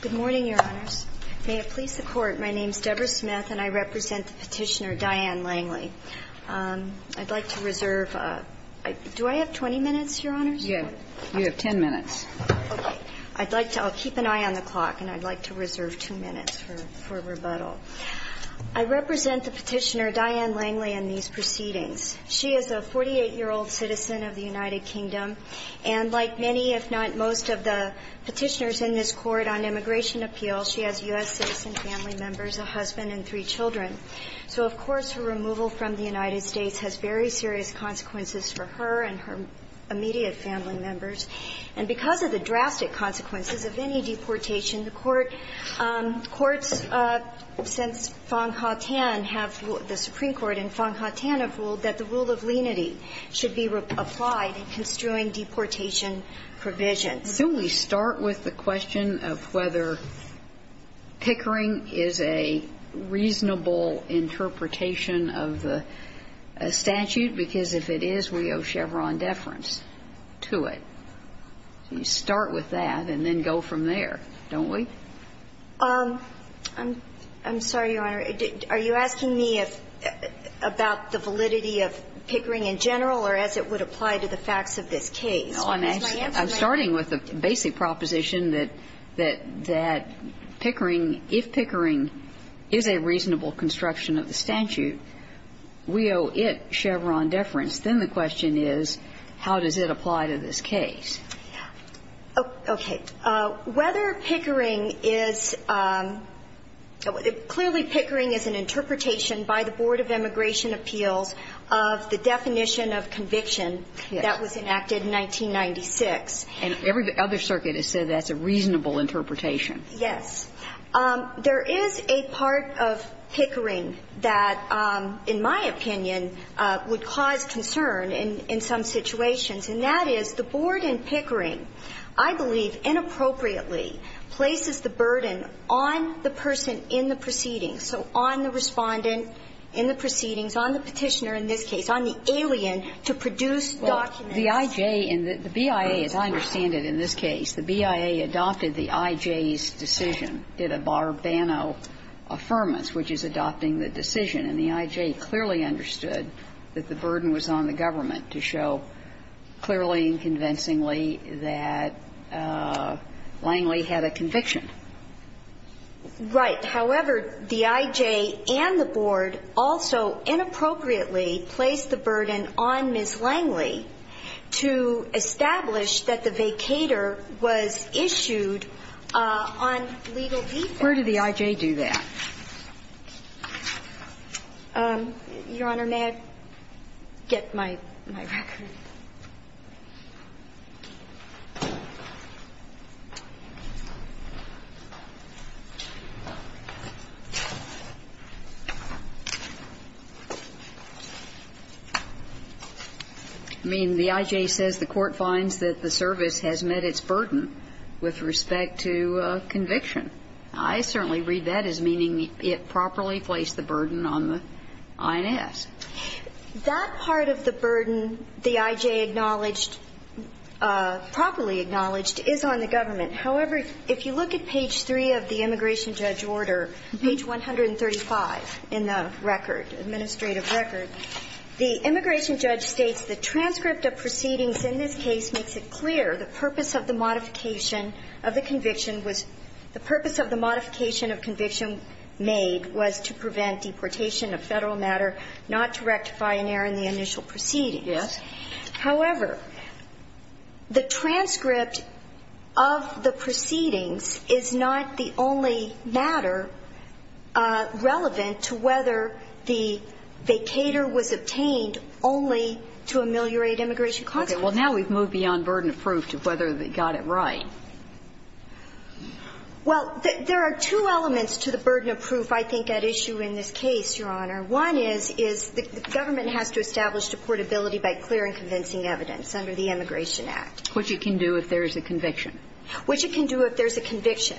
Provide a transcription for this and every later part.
Good morning, Your Honors. May it please the Court, my name is Debra Smith and I represent the Petitioner Diane Langley. I'd like to reserve, do I have 20 minutes, Your Honors? You have 10 minutes. I'd like to, I'll keep an eye on the clock and I'd like to reserve two minutes for rebuttal. I represent the Petitioner Diane Langley in these proceedings. She is a 48-year-old citizen of the United Kingdom and like many, if not most, of the petitioners in this Court, on immigration appeals, she has U.S. citizen family members, a husband and three children. So, of course, her removal from the United States has very serious consequences for her and her immediate family members. And because of the drastic consequences of any deportation, the Court, courts since Fang Haotian have, the Supreme Court and Fang Haotian have ruled that the rule of lenity should be applied in construing deportation provisions. So we start with the question of whether Pickering is a reasonable interpretation of the statute, because if it is, we owe Chevron deference to it. You start with that and then go from there, don't we? I'm sorry, Your Honor. Are you asking me about the validity of Pickering in general or as it would apply to the facts of this case? I'm starting with the basic proposition that Pickering, if Pickering is a reasonable construction of the statute, we owe it Chevron deference. Then the question is, how does it apply to this case? Okay. Whether Pickering is – clearly, Pickering is an interpretation by the Board of Immigration Appeals of the definition of conviction that was enacted in 1996. And every other circuit has said that's a reasonable interpretation. Yes. There is a part of Pickering that, in my opinion, would cause concern in some situations, and that is the Board in Pickering, I believe, inappropriately places the burden on the person in the proceedings, so on the Respondent in the proceedings, on the Petitioner in this case, on the alien to produce documents. Well, the I.J. and the BIA, as I understand it in this case, the BIA adopted the I.J.'s decision, did a Barbano affirmance, which is adopting the decision, and the I.J. clearly had a conviction. Right. However, the I.J. and the Board also inappropriately placed the burden on Ms. Langley to establish that the vacator was issued on legal defense. Where did the I.J. do that? Your Honor, may I get my record? I mean, the I.J. says the Court finds that the service has met its burden with respect to conviction. I certainly read that as meaning it properly placed the burden on the I.N.S. That part of the burden the I.J. placed on the I.N.S. did not meet. The burden that the I.J. acknowledged, properly acknowledged, is on the government. However, if you look at page 3 of the immigration judge order, page 135 in the record, administrative record, the immigration judge states the transcript of proceedings in this case makes it clear the purpose of the modification of the conviction was to prevent deportation of Federal matter not to rectify an error in the initial proceedings. Yes. However, the transcript of the proceedings is not the only matter relevant to whether the vacator was obtained only to ameliorate immigration consequences. Okay. Well, now we've moved beyond burden of proof to whether they got it right. Well, there are two elements to the burden of proof I think at issue in this case, Your Honor. One is, is the government has to establish deportability by clearing convincing evidence under the Immigration Act. Which it can do if there is a conviction. Which it can do if there is a conviction.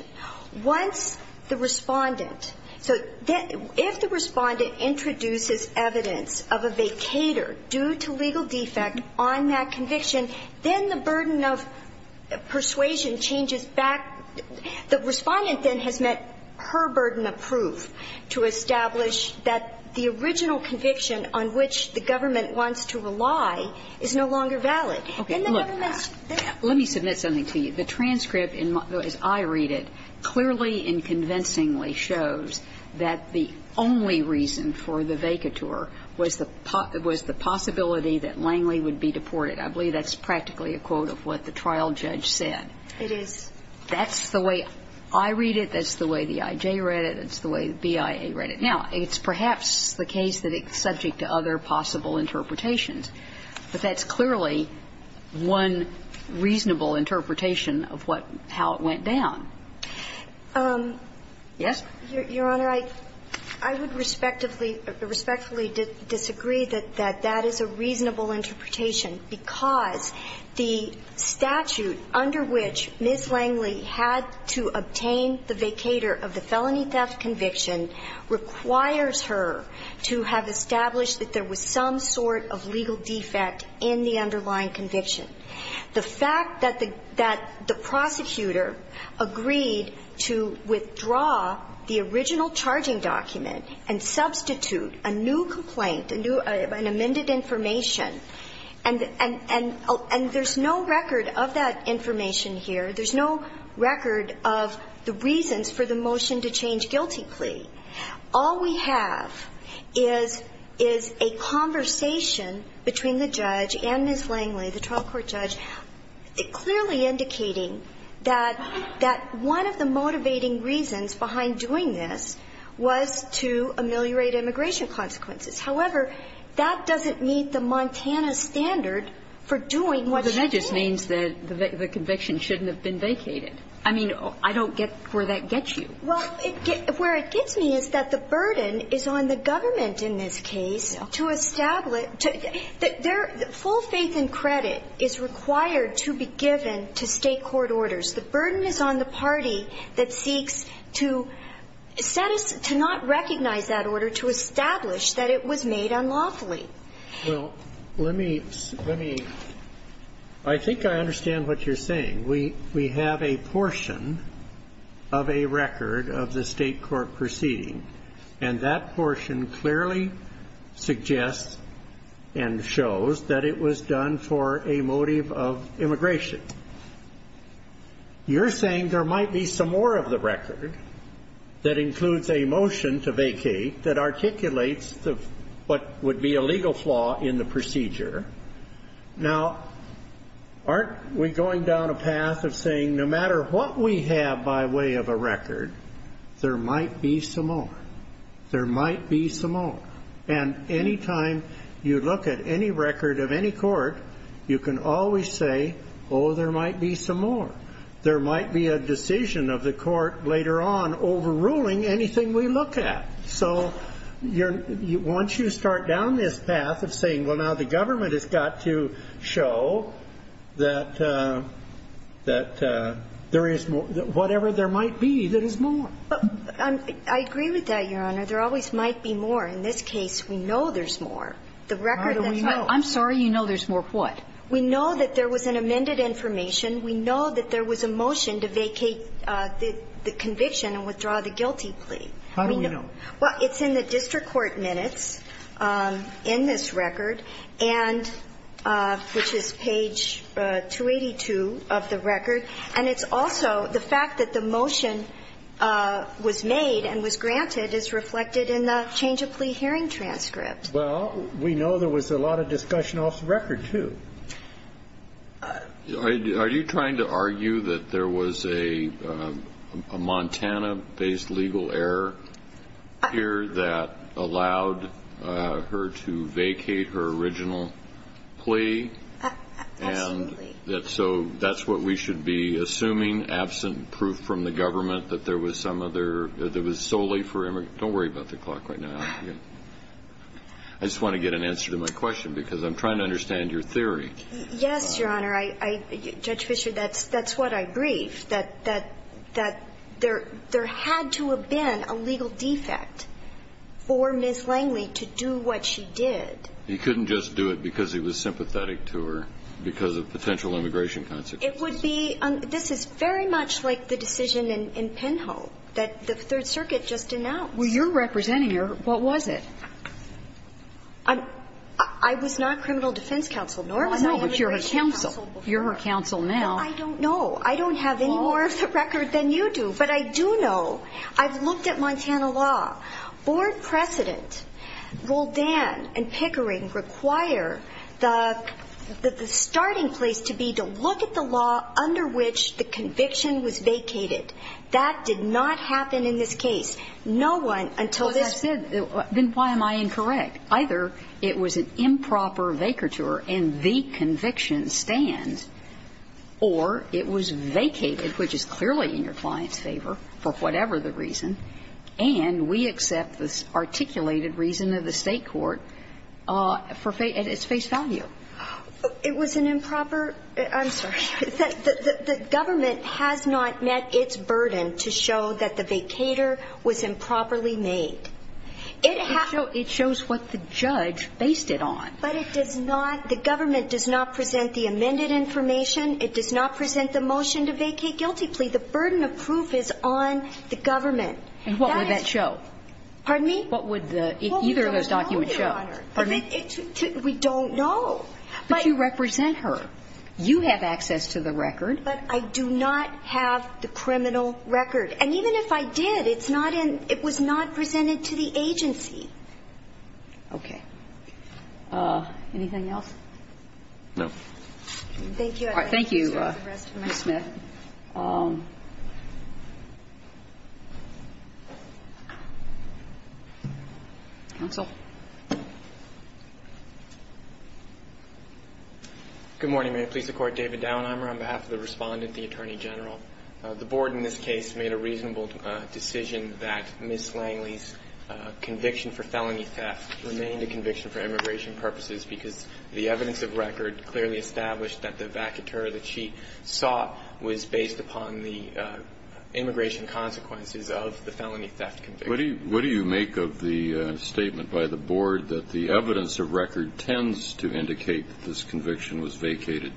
Once the Respondent, so if the Respondent introduces evidence of a vacator due to legal defect on that conviction, then the burden of persuasion changes back. The Respondent then has met her burden of proof to establish that the original conviction on which the government wants to rely is no longer valid. Okay. Look, let me submit something to you. The transcript, as I read it, clearly and convincingly shows that the only reason for the vacator was the possibility that Langley would be deported. I believe that's practically a quote of what the trial judge said. It is. That's the way I read it. That's the way the I.J. read it. That's the way the BIA read it. Now, it's perhaps the case that it's subject to other possible interpretations, but that's clearly one reasonable interpretation of how it went down. Yes? Your Honor, I would respectfully disagree that that is a reasonable interpretation because the statute under which Ms. Langley had to obtain the vacator of the felony theft conviction requires her to have established that there was some sort of legal defect in the underlying conviction. The fact that the prosecutor agreed to withdraw the original charging document and substitute a new complaint, an amended information, and there's no record of that information here, there's no record of the reasons for the motion to change guilty plea, all we have is a conversation between the judge and Ms. Langley, the trial court judge, clearly indicating that one of the motivating reasons behind doing this was to ameliorate immigration consequences. However, that doesn't meet the Montana standard for doing what should be. Well, then that just means that the conviction shouldn't have been vacated. I mean, I don't get where that gets you. Well, where it gets me is that the burden is on the government in this case to establish that their full faith and credit is required to be given to State court orders. The burden is on the party that seeks to set us to not recognize that order, to establish that it was made unlawfully. Well, let me, let me, I think I understand what you're saying. We have a portion of a record of the State court proceeding, and that portion clearly suggests and shows that it was done for a motive of immigration. You're saying there might be some more of the record that includes a motion to vacate that articulates what would be a legal flaw in the procedure. Now, aren't we going down a path of saying no matter what we have by way of a record, there might be some more. There might be some more. And any time you look at any record of any court, you can always say, oh, there might be some more. There might be a decision of the court later on overruling anything we look at. So once you start down this path of saying, well, now the government has got to show that there is more, whatever there might be, there is more. I agree with that, Your Honor. There always might be more. In this case, we know there's more. How do we know? I'm sorry. You know there's more of what? We know that there was an amended information. We know that there was a motion to vacate the conviction and withdraw the guilty How do we know? Well, it's in the district court minutes in this record, and which is page 282 of the record. And it's also the fact that the motion was made and was granted is reflected in the change of plea hearing transcript. Well, we know there was a lot of discussion off the record, too. Are you trying to argue that there was a Montana-based legal error here that allowed her to vacate her original plea? Absolutely. And so that's what we should be assuming, absent proof from the government that there was some other – that it was solely for – don't worry about the clock right now. I just want to get an answer to my question, because I'm trying to understand your theory. Yes, Your Honor. Judge Fischer, that's what I briefed, that there had to have been a legal defect for Ms. Langley to do what she did. You couldn't just do it because he was sympathetic to her because of potential immigration consequences. It would be – this is very much like the decision in Penhall that the Third Circuit just announced. Well, you're representing her. What was it? I was not criminal defense counsel, nor was I immigration counsel before. No, but you're her counsel. You're her counsel now. No, I don't know. I don't have any more of the record than you do. But I do know. I've looked at Montana law. Board precedent, Roldan and Pickering require the starting place to be to look at the law under which the conviction was vacated. That did not happen in this case. No one until this – Well, as I said, then why am I incorrect? Either it was an improper vacatur and the conviction stands, or it was vacated, which is clearly in your client's favor, for whatever the reason, and we accept the articulated reason of the State court at its face value. It was an improper – I'm sorry. The government has not met its burden to show that the vacatur was improperly made. It shows what the judge based it on. But it does not – the government does not present the amended information. It does not present the motion to vacate guilty plea. The burden of proof is on the government. And what would that show? What would either of those documents show? Well, we don't know, Your Honor. Pardon me? We don't know. But you represent her. You have access to the record. But I do not have the criminal record. And even if I did, it's not in – it was not presented to the agency. Okay. Anything else? No. Thank you. Thank you, Ms. Smith. Counsel. Good morning. May it please the Court. David Daunheimer on behalf of the Respondent, the Attorney General. The Board in this case made a reasonable decision that Ms. Langley's conviction for felony theft remained a conviction for immigration purposes because the evidence of record clearly established that the vacatur that she saw was based upon the immigration consequences of the felony theft conviction. What do you make of the statement by the Board that the evidence of record tends to indicate that this conviction was vacated,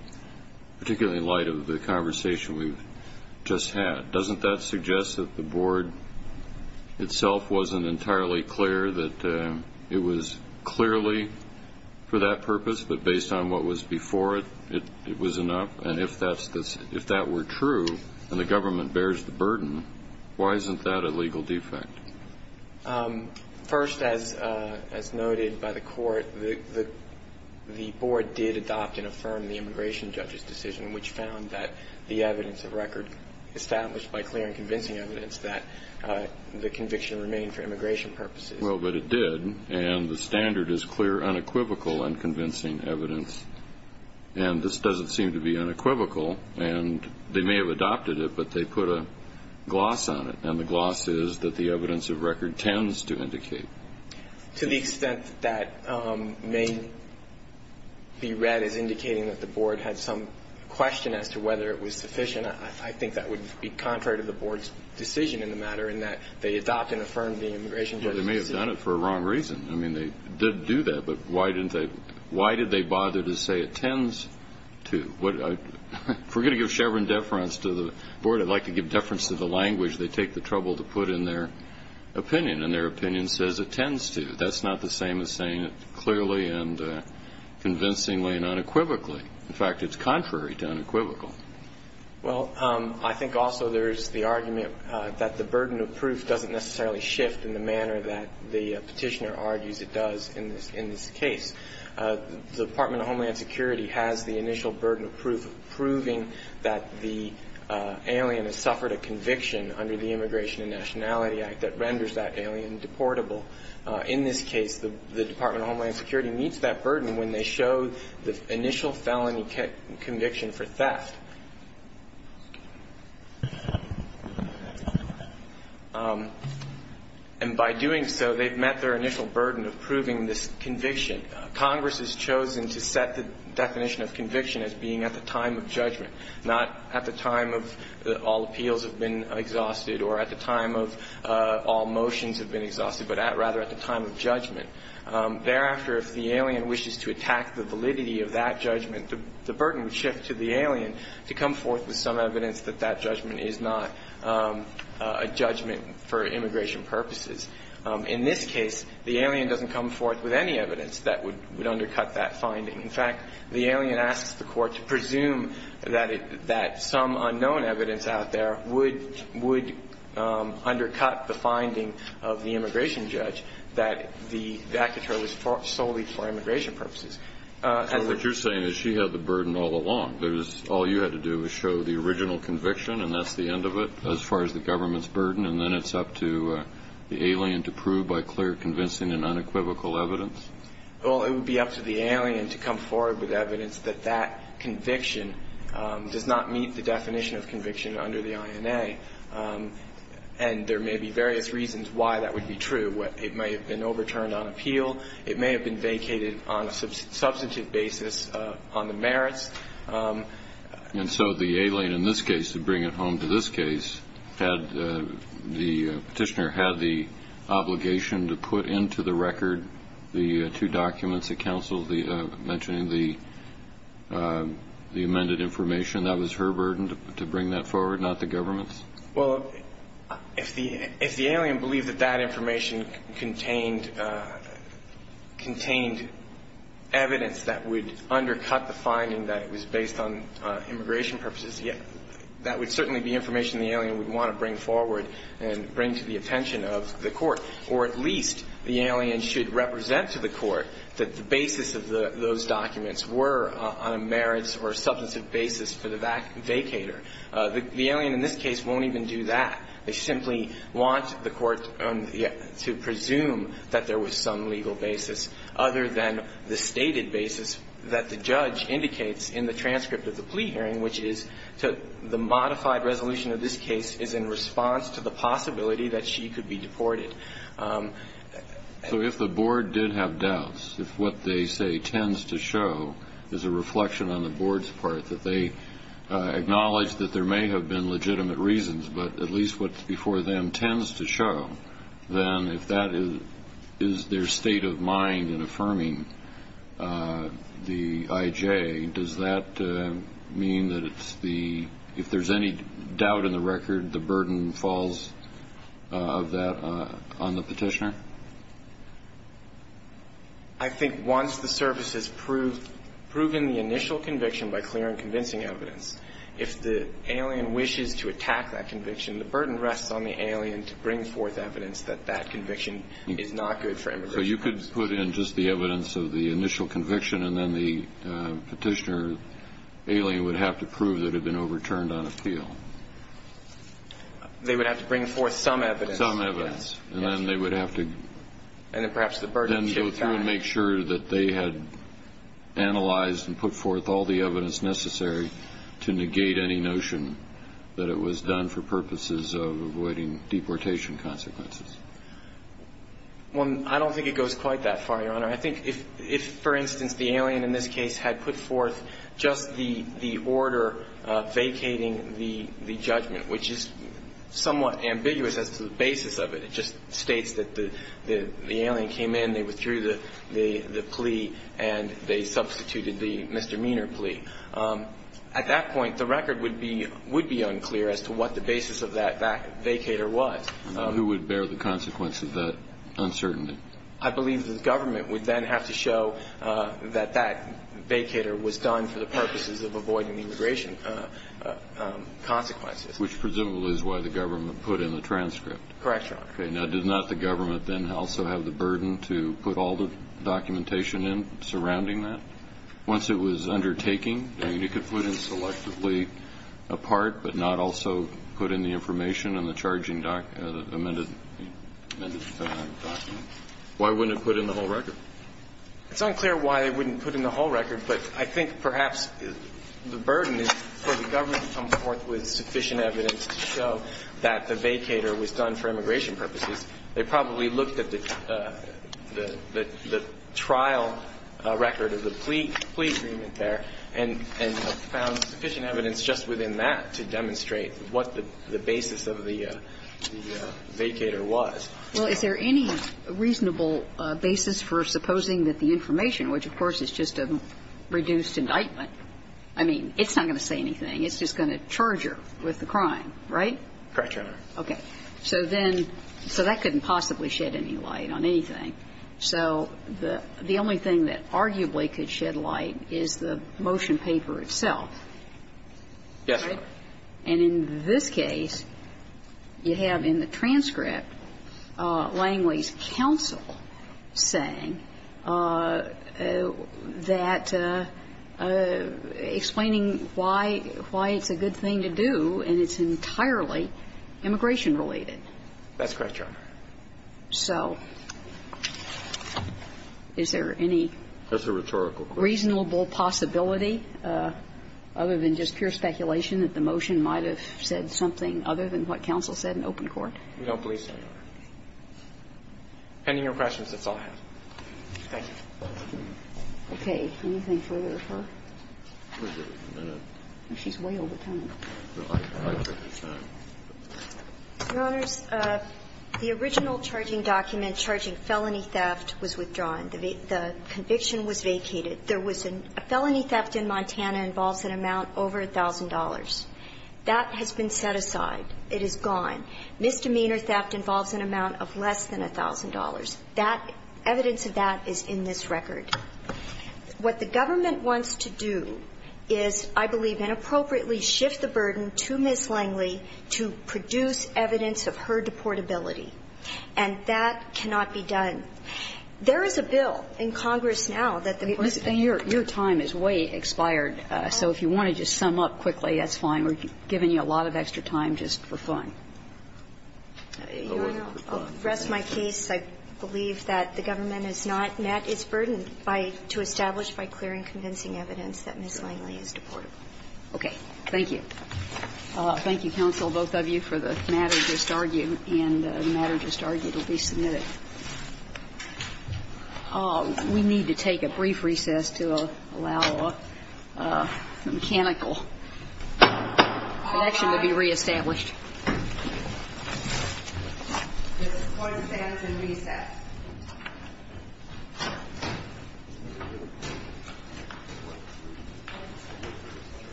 particularly in light of the conversation we've just had? Doesn't that suggest that the Board itself wasn't entirely clear that it was clearly for that purpose, but based on what was before it, it was enough? Why isn't that a legal defect? First, as noted by the Court, the Board did adopt and affirm the immigration judge's decision, which found that the evidence of record established by clear and convincing evidence that the conviction remained for immigration purposes. Well, but it did. And the standard is clear, unequivocal, unconvincing evidence. And this doesn't seem to be unequivocal. And they may have adopted it, but they put a gloss on it. And the gloss is that the evidence of record tends to indicate. To the extent that that may be read as indicating that the Board had some question as to whether it was sufficient, I think that would be contrary to the Board's decision in the matter in that they adopt and affirm the immigration judge's decision. Yeah, they may have done it for a wrong reason. I mean, they did do that. But why did they bother to say it tends to? If we're going to give Chevron deference to the Board, I'd like to give deference to the language they take the trouble to put in their opinion. And their opinion says it tends to. That's not the same as saying it clearly and convincingly and unequivocally. In fact, it's contrary to unequivocal. Well, I think also there's the argument that the burden of proof doesn't necessarily shift in the manner that the Petitioner argues it does in this case. The Department of Homeland Security has the initial burden of proof of proving that the alien has suffered a conviction under the Immigration and Nationality Act that renders that alien deportable. In this case, the Department of Homeland Security meets that burden when they show the initial felony conviction for theft. And by doing so, they've met their initial burden of proving this conviction. Congress has chosen to set the definition of conviction as being at the time of judgment, not at the time of all appeals have been exhausted or at the time of all motions have been exhausted, but rather at the time of judgment. Thereafter, if the alien wishes to attack the validity of that judgment, the burden would shift to the alien to come forth with some evidence that that judgment is not a judgment for immigration purposes. In this case, the alien doesn't come forth with any evidence that would undercut that finding. In fact, the alien asks the Court to presume that some unknown evidence out there would undercut the finding of the immigration judge that the accusatory was solely for immigration purposes. So what you're saying is she had the burden all along. All you had to do was show the original conviction, and that's the end of it as far as the government's burden, and then it's up to the alien to prove by clear, convincing, and unequivocal evidence? Well, it would be up to the alien to come forward with evidence that that conviction does not meet the definition of conviction under the INA. And there may be various reasons why that would be true. It may have been overturned on appeal. It may have been vacated on a substantive basis on the merits. And so the alien in this case, to bring it home to this case, had the petitioner had the obligation to put into the record the two documents that counseled the mentioning the amended information. That was her burden to bring that forward, not the government's? Well, if the alien believed that that information contained evidence that would undercut the finding that it was based on immigration purposes, that would certainly be information the alien would want to bring forward and bring to the attention of the court. Or at least the alien should represent to the court that the basis of those documents were on a merits or substantive basis for the vacator. The alien in this case won't even do that. They simply want the court to presume that there was some legal basis other than the stated basis that the judge indicates in the transcript of the plea hearing, which is the modified resolution of this case is in response to the possibility that she could be deported. So if the board did have doubts, if what they say tends to show is a reflection on the board's part, that they acknowledge that there may have been legitimate reasons, but at least what's before them tends to show, then if that is their state of mind in affirming the IJ, does that mean that it's the, if there's any doubt in the record, the burden falls of that on the petitioner? I think once the service has proved, proven the initial conviction by clear and convincing evidence, if the alien wishes to attack that conviction, the burden rests on the alien to bring forth evidence that that conviction is not good for immigration. So you could put in just the evidence of the initial conviction, and then the petitioner alien would have to prove that it had been overturned on appeal. Some evidence. And then they would have to go through and make sure that they had analyzed and put forth all the evidence necessary to negate any notion that it was done for purposes of avoiding deportation consequences. Well, I don't think it goes quite that far, Your Honor. I think if, for instance, the alien in this case had put forth just the order vacating the judgment, which is somewhat ambiguous as to the basis of it. It just states that the alien came in, they withdrew the plea, and they substituted the misdemeanor plea. At that point, the record would be unclear as to what the basis of that vacator was. And who would bear the consequence of that uncertainty? I believe the government would then have to show that that vacator was done for the purposes of avoiding deportation consequences. Which presumably is why the government put in the transcript. Correct, Your Honor. Okay. Now, did not the government then also have the burden to put all the documentation in surrounding that? Once it was undertaking, you could put in selectively a part, but not also put in the information in the charging document, amended document. Why wouldn't it put in the whole record? It's unclear why they wouldn't put in the whole record, but I think perhaps the burden is for the government to come forth with sufficient evidence to show that the vacator was done for immigration purposes. They probably looked at the trial record of the plea agreement there and found sufficient evidence just within that to demonstrate what the basis of the vacator was. Well, is there any reasonable basis for supposing that the information, which, of course, is just a reduced indictment, I mean, it's not going to say anything. It's just going to charge her with the crime, right? Correct, Your Honor. Okay. So then so that couldn't possibly shed any light on anything. So the only thing that arguably could shed light is the motion paper itself. Yes, Your Honor. And in this case, you have in the transcript Langley's counsel saying that explaining why it's a good thing to do and it's entirely immigration-related. That's correct, Your Honor. So is there any reasonable possibility, other than just pure speculation, that the motion might have said something other than what counsel said in open court? We don't believe so, Your Honor. Depending on your questions, that's all I have. Thank you. Okay. Anything further for her? She's way over time. Your Honors, the original charging document charging felony theft was withdrawn. The conviction was vacated. There was a felony theft in Montana involves an amount over $1,000. That has been set aside. It is gone. Misdemeanor theft involves an amount of less than $1,000. That evidence of that is in this record. What the government wants to do is, I believe, inappropriately shift the burden to Ms. Langley to produce evidence of her deportability. And that cannot be done. There is a bill in Congress now that the person who was deported to Montana was deported to Montana. Your time is way expired. So if you want to just sum up quickly, that's fine. We're giving you a lot of extra time just for fun. Your Honor, I'll rest my case. I believe that the government has not met its burden by to establish by clearing convincing evidence that Ms. Langley is deportable. Okay. Thank you. All right. Thank you, counsel, both of you, for the matter just argued. And the matter just argued will be submitted. We need to take a brief recess to allow a mechanical action to be reestablished. This court stands in recess.